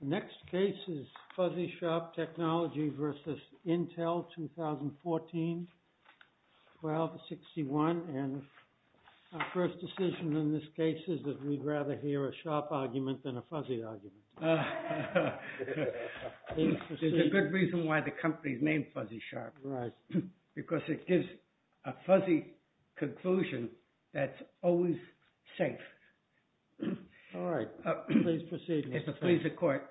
The next case is Fuzzysharp Technologies v. Intel 2014-12-61, and our first decision in this case is that we'd rather hear a sharp argument than a fuzzy argument. There's a good reason why the company's named Fuzzysharp. Because it gives a fuzzy conclusion that's always safe. All right, please proceed. If it pleases the Court,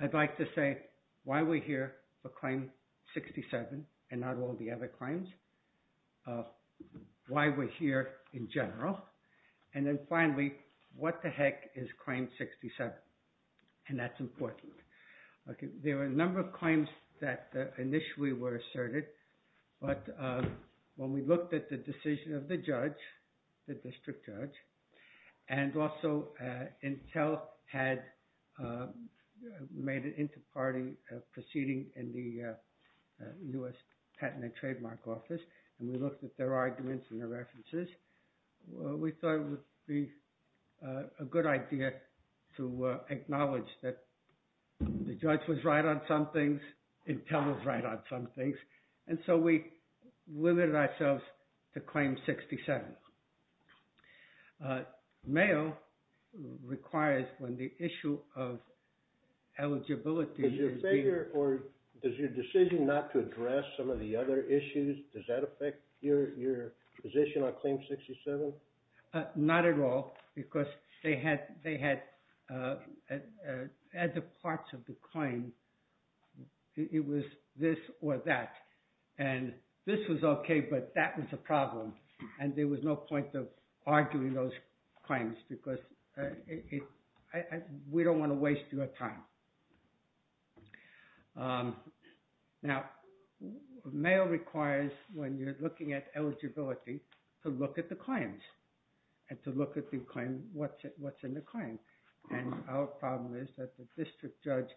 I'd like to say why we're here for Claim 67 and not all the other claims, why we're here in general, and then finally, what the heck is Claim 67, and that's important. Okay, there are a number of claims that initially were asserted, but when we looked at the decision of the judge, the district judge, and also Intel had made an inter-party proceeding in the U.S. Patent and Trademark Office, and we looked at their arguments and their references, we thought it would be a good idea to acknowledge that the judge was right on some things, Intel was right on some things, and so we limited ourselves to Claim 67. Mayo requires, when the issue of eligibility is being... Does your decision not to address some of the other issues, does that affect your position on Claim 67? No, not at all, because they had the parts of the claim, it was this or that, and this was okay, but that was a problem, and there was no point of arguing those claims, because we don't want to waste your time. Now, Mayo requires, when you're looking at eligibility, to look at the claims, and to look at the claim, what's in the claim, and our problem is that the district judge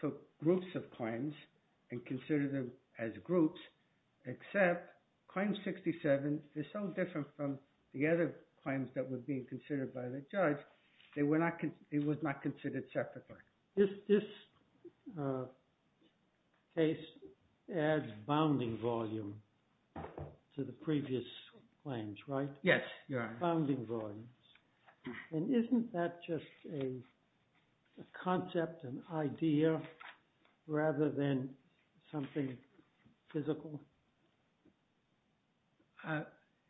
took groups of claims and considered them as groups, except Claim 67 is so different from the other claims that were being considered by the judge, they were not considered separately. This case adds bounding volume to the previous claims, right? Yes, you're right. Bounding volumes, and isn't that just a concept, an idea, rather than something physical?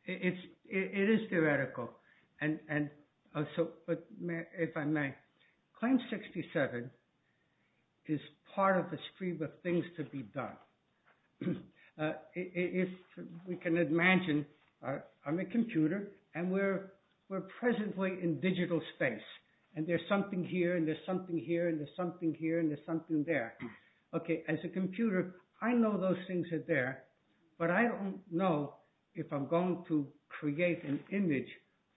It is theoretical, and so, if I may, Claim 67 is part of a stream of things to be done. If we can imagine, I'm a computer, and we're presently in digital space, and there's something here, and there's something here, and there's something here, and there's something there. Okay, as a computer, I know those things are there, but I don't know if I'm going to create an image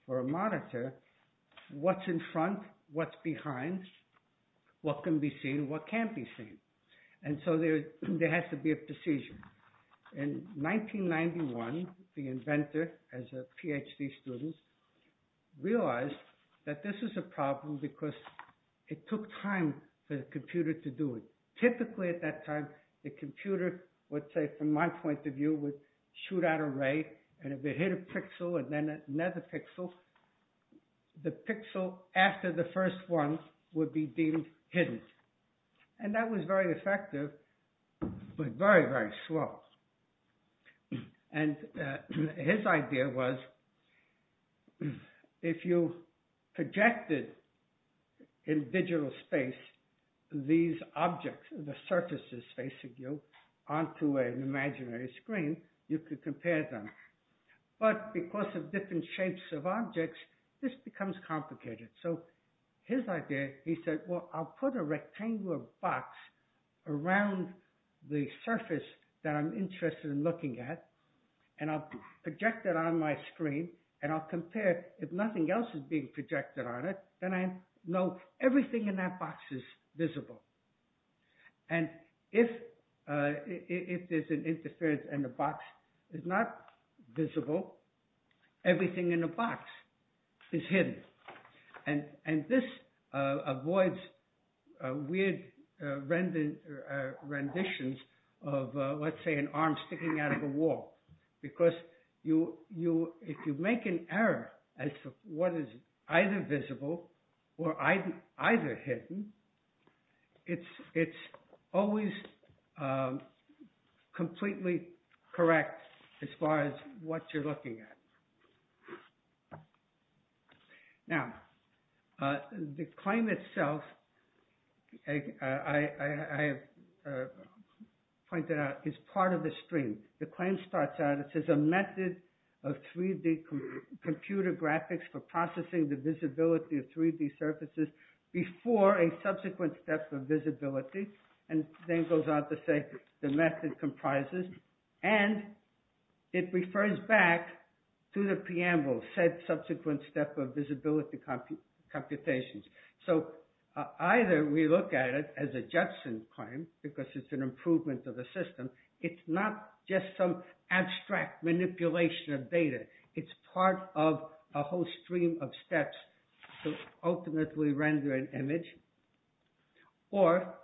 for a monitor, what's in front, what's behind, what can be seen, what can't be seen, and so there has to be a decision. In 1991, the inventor, as a PhD student, realized that this is a problem because it took time for the computer to do it. Typically, at that time, the computer would say, from my point of view, would shoot out a ray, and if it hit a pixel, and then another pixel, the pixel after the first one would be deemed hidden. And that was very effective, but very, very slow. And his idea was, if you projected in digital space, these objects, the surfaces facing you, onto an imaginary screen, you could compare them. But because of different shapes of objects, this becomes complicated. So, his idea, he said, well, I'll put a rectangular box around the surface that I'm interested in looking at, and I'll project it on my screen, and I'll compare, if nothing else is being projected on it, then I know everything in that box is visible. And if there's an interference and the box is not visible, everything in the box is hidden. And this avoids weird renditions of, let's say, an arm sticking out of a wall, because if you make an error as to what is either visible or either hidden, it's always completely correct as far as what you're looking at. Now, the claim itself, I have pointed out, is part of the stream. The claim starts out, it says, a method of 3D computer graphics for processing the visibility of 3D surfaces before a subsequent step of visibility. And then goes on to say, the method comprises, and it refers back to the preamble, said subsequent step of visibility computations. So, either we look at it as a judgment claim, because it's an improvement of the system, it's not just some abstract manipulation of data, it's part of a whole stream of steps to ultimately render an image. Or,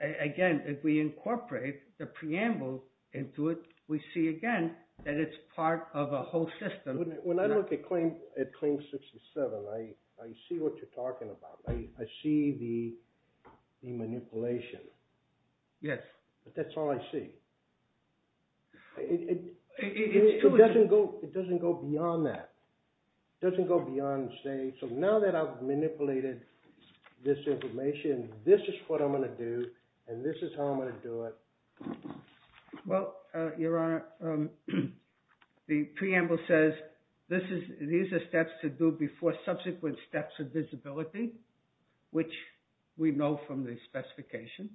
again, if we incorporate the preamble into it, we see again that it's part of a whole system. When I look at claim 67, I see what you're talking about. I see the manipulation. Yes. But that's all I see. It doesn't go beyond that. It doesn't go beyond, say, so now that I've manipulated this information, this is what I'm going to do, and this is how I'm going to do it. Well, Your Honor, the preamble says, these are steps to do before subsequent steps of visibility, which we know from the specification.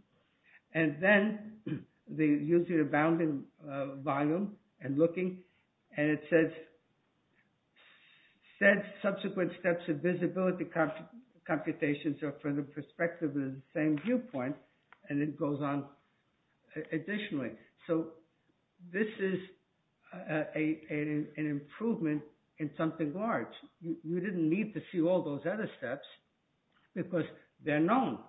And then, they use the bounding volume and looking, and it says, said subsequent steps of visibility computations are from the perspective of the same viewpoint, and it goes on additionally. So, this is an improvement in something large. You didn't need to see all those other steps, because they're known.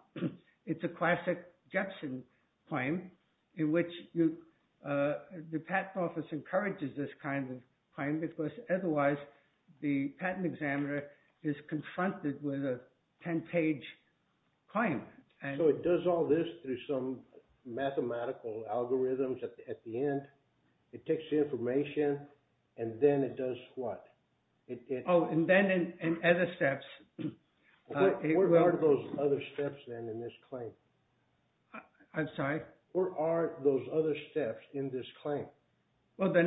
It's a classic Jepson claim, in which the patent office encourages this kind of claim, because otherwise, the patent examiner is confronted with a 10-page claim. So, it does all this through some mathematical algorithms at the end. It takes the information, and then it does what? Oh, and then in other steps. What are those other steps, then, in this claim? I'm sorry? What are those other steps in this claim? Well, they're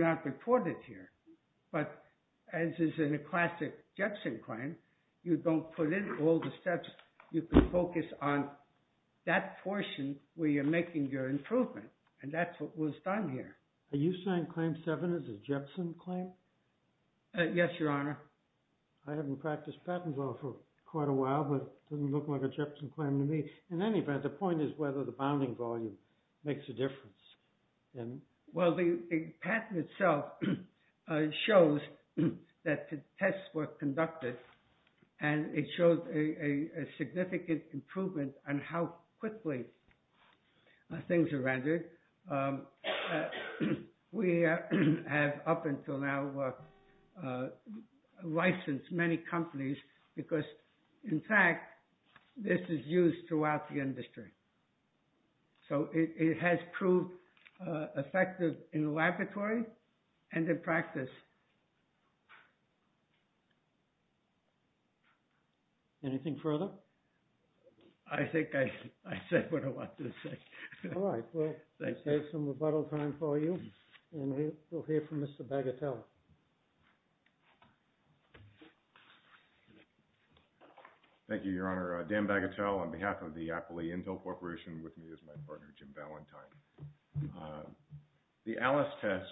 not reported here. But as is in a classic Jepson claim, you don't put in all the steps. You can focus on that portion where you're making your improvement, and that's what was done here. Are you saying Claim 7 is a Jepson claim? Yes, Your Honor. I haven't practiced patent law for quite a while, but it doesn't look like a Jepson claim to me. In any event, the point is whether the bounding volume makes a difference. Well, the patent itself shows that the tests were conducted, and it shows a significant improvement on how quickly things are rendered. We have, up until now, licensed many companies because, in fact, this is used throughout the industry. So, it has proved effective in the laboratory and in practice. Anything further? I think I said what I wanted to say. Well, thank you, Your Honor. I'll take some rebuttal time for you, and we'll hear from Mr. Bagatelle. Thank you, Your Honor. Dan Bagatelle on behalf of the Apple Intel Corporation, with me is my partner, Jim Ballantyne. The ALICE test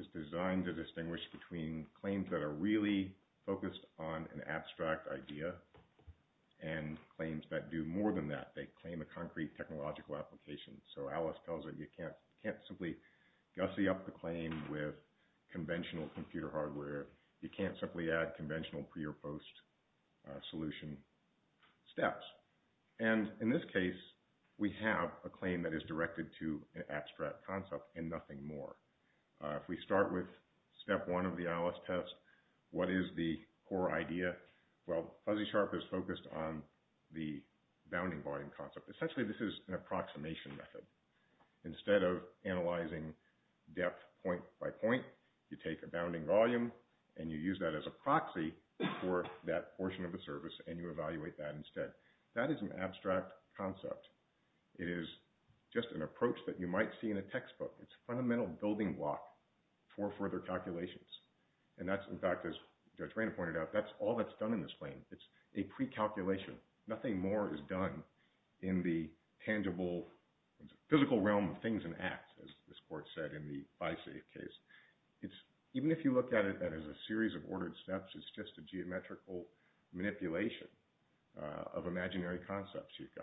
is designed to distinguish between claims that are really focused on an abstract idea and claims that do more than that. They claim a concrete technological application. So, ALICE tells it you can't simply gussy up the claim with conventional computer hardware. You can't simply add conventional pre- or post-solution steps. And in this case, we have a claim that is directed to an abstract concept and nothing more. If we start with step one of the ALICE test, what is the core idea? Well, Fuzzy Sharp is focused on the bounding volume concept. Essentially, this is an approximation method. Instead of analyzing depth point by point, you take a bounding volume, and you use that as a proxy for that portion of the service, and you evaluate that instead. That is an abstract concept. It is just an approach that you might see in a textbook. It's a fundamental building block for further calculations. And that's, in fact, as Judge Randall pointed out, that's all that's done in this claim. It's a pre-calculation. Nothing more is done in the tangible, physical realm of things and acts, as this court said in the BISAFE case. Even if you look at it as a series of ordered steps, it's just a geometrical manipulation of imaginary concepts. You've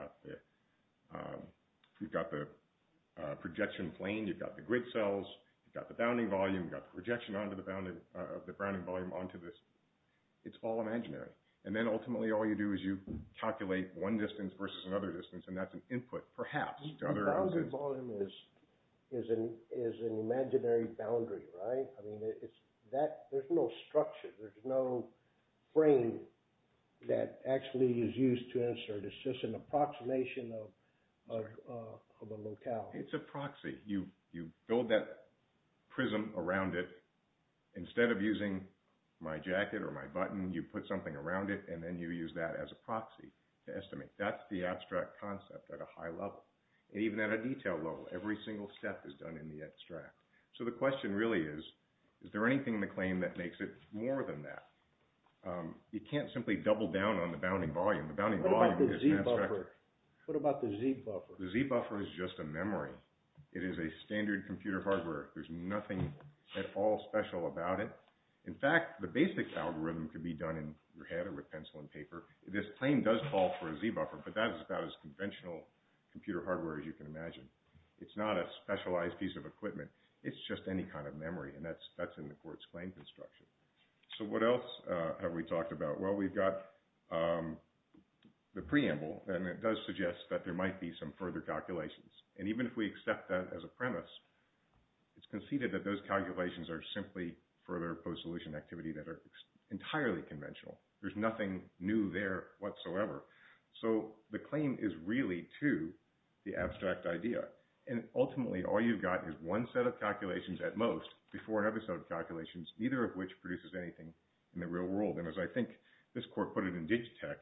got the projection plane. You've got the grid cells. You've got the bounding volume. You've got the projection of the bounding volume onto this. It's all imaginary. And then ultimately, all you do is you calculate one distance versus another distance, and that's an input, perhaps, to other answers. The bounding volume is an imaginary boundary, right? I mean, there's no structure. There's no frame that actually is used to insert. It's just an approximation of a locale. It's a proxy. You build that prism around it. Instead of using my jacket or my button, you put something around it, and then you use that as a proxy to estimate. That's the abstract concept at a high level. And even at a detail level, every single step is done in the extract. So the question really is, is there anything in the claim that makes it more than that? You can't simply double down on the bounding volume. The bounding volume is an abstractor. What about the Z-buffer? The Z-buffer is just a memory. It is a standard computer hardware. There's nothing at all special about it. In fact, the basic algorithm could be done in your head or with pencil and paper. This claim does call for a Z-buffer, but that is about as conventional computer hardware as you can imagine. It's not a specialized piece of equipment. It's just any kind of memory, and that's in the court's claim construction. So what else have we talked about? Well, we've got the preamble, and it does suggest that there might be some further calculations. And even if we accept that as a premise, it's conceded that those calculations are simply further post-solution activity that are entirely conventional. There's nothing new there whatsoever. So the claim is really to the abstract idea. And ultimately, all you've got is one set of calculations at most before another set of calculations, neither of which produces anything in the real world. And as I think this court put it in Digitech,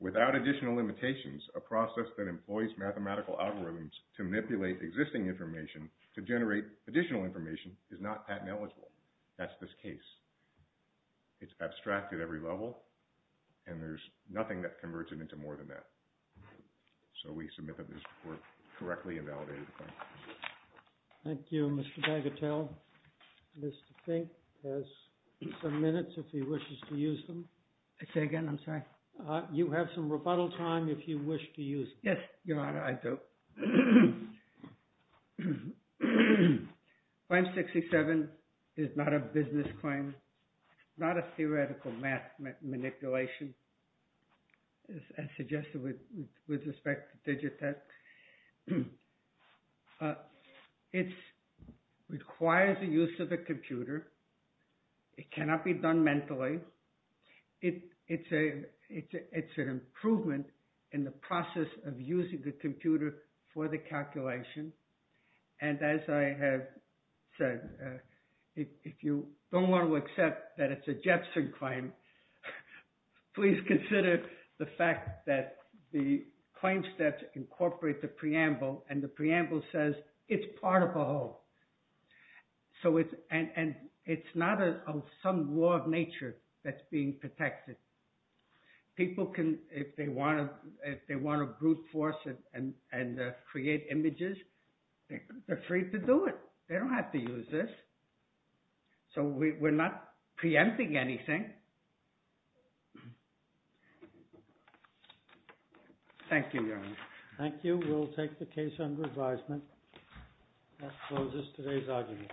without additional limitations, a process that employs mathematical algorithms to manipulate existing information to generate additional information is not patent eligible. That's this case. It's abstract at every level, and there's nothing that converts it into more than that. So we submit that this report correctly invalidated the claim. Thank you, Mr. Bagatelle. Mr. Fink has some minutes if he wishes to use them. I say again, I'm sorry. You have some rebuttal time if you wish to use them. Yes, Your Honor, I do. Claim 67 is not a business claim, not a theoretical math manipulation, as suggested with respect to Digitech. It requires the use of a computer. It cannot be done mentally. It's an improvement in the process of using the computer for the calculation. And as I have said, if you don't want to accept that it's a Jefferson claim, please consider the fact that the claim steps incorporate the preamble, and the preamble says it's part of a whole. So it's, and it's not some law of nature that's being protected. People can, if they want to, if they want to brute force it and, and create images, they're free to do it. They don't have to use this. So we're not preempting anything. Thank you, Your Honor. Thank you. We'll take the case under advisement. That closes today's argument.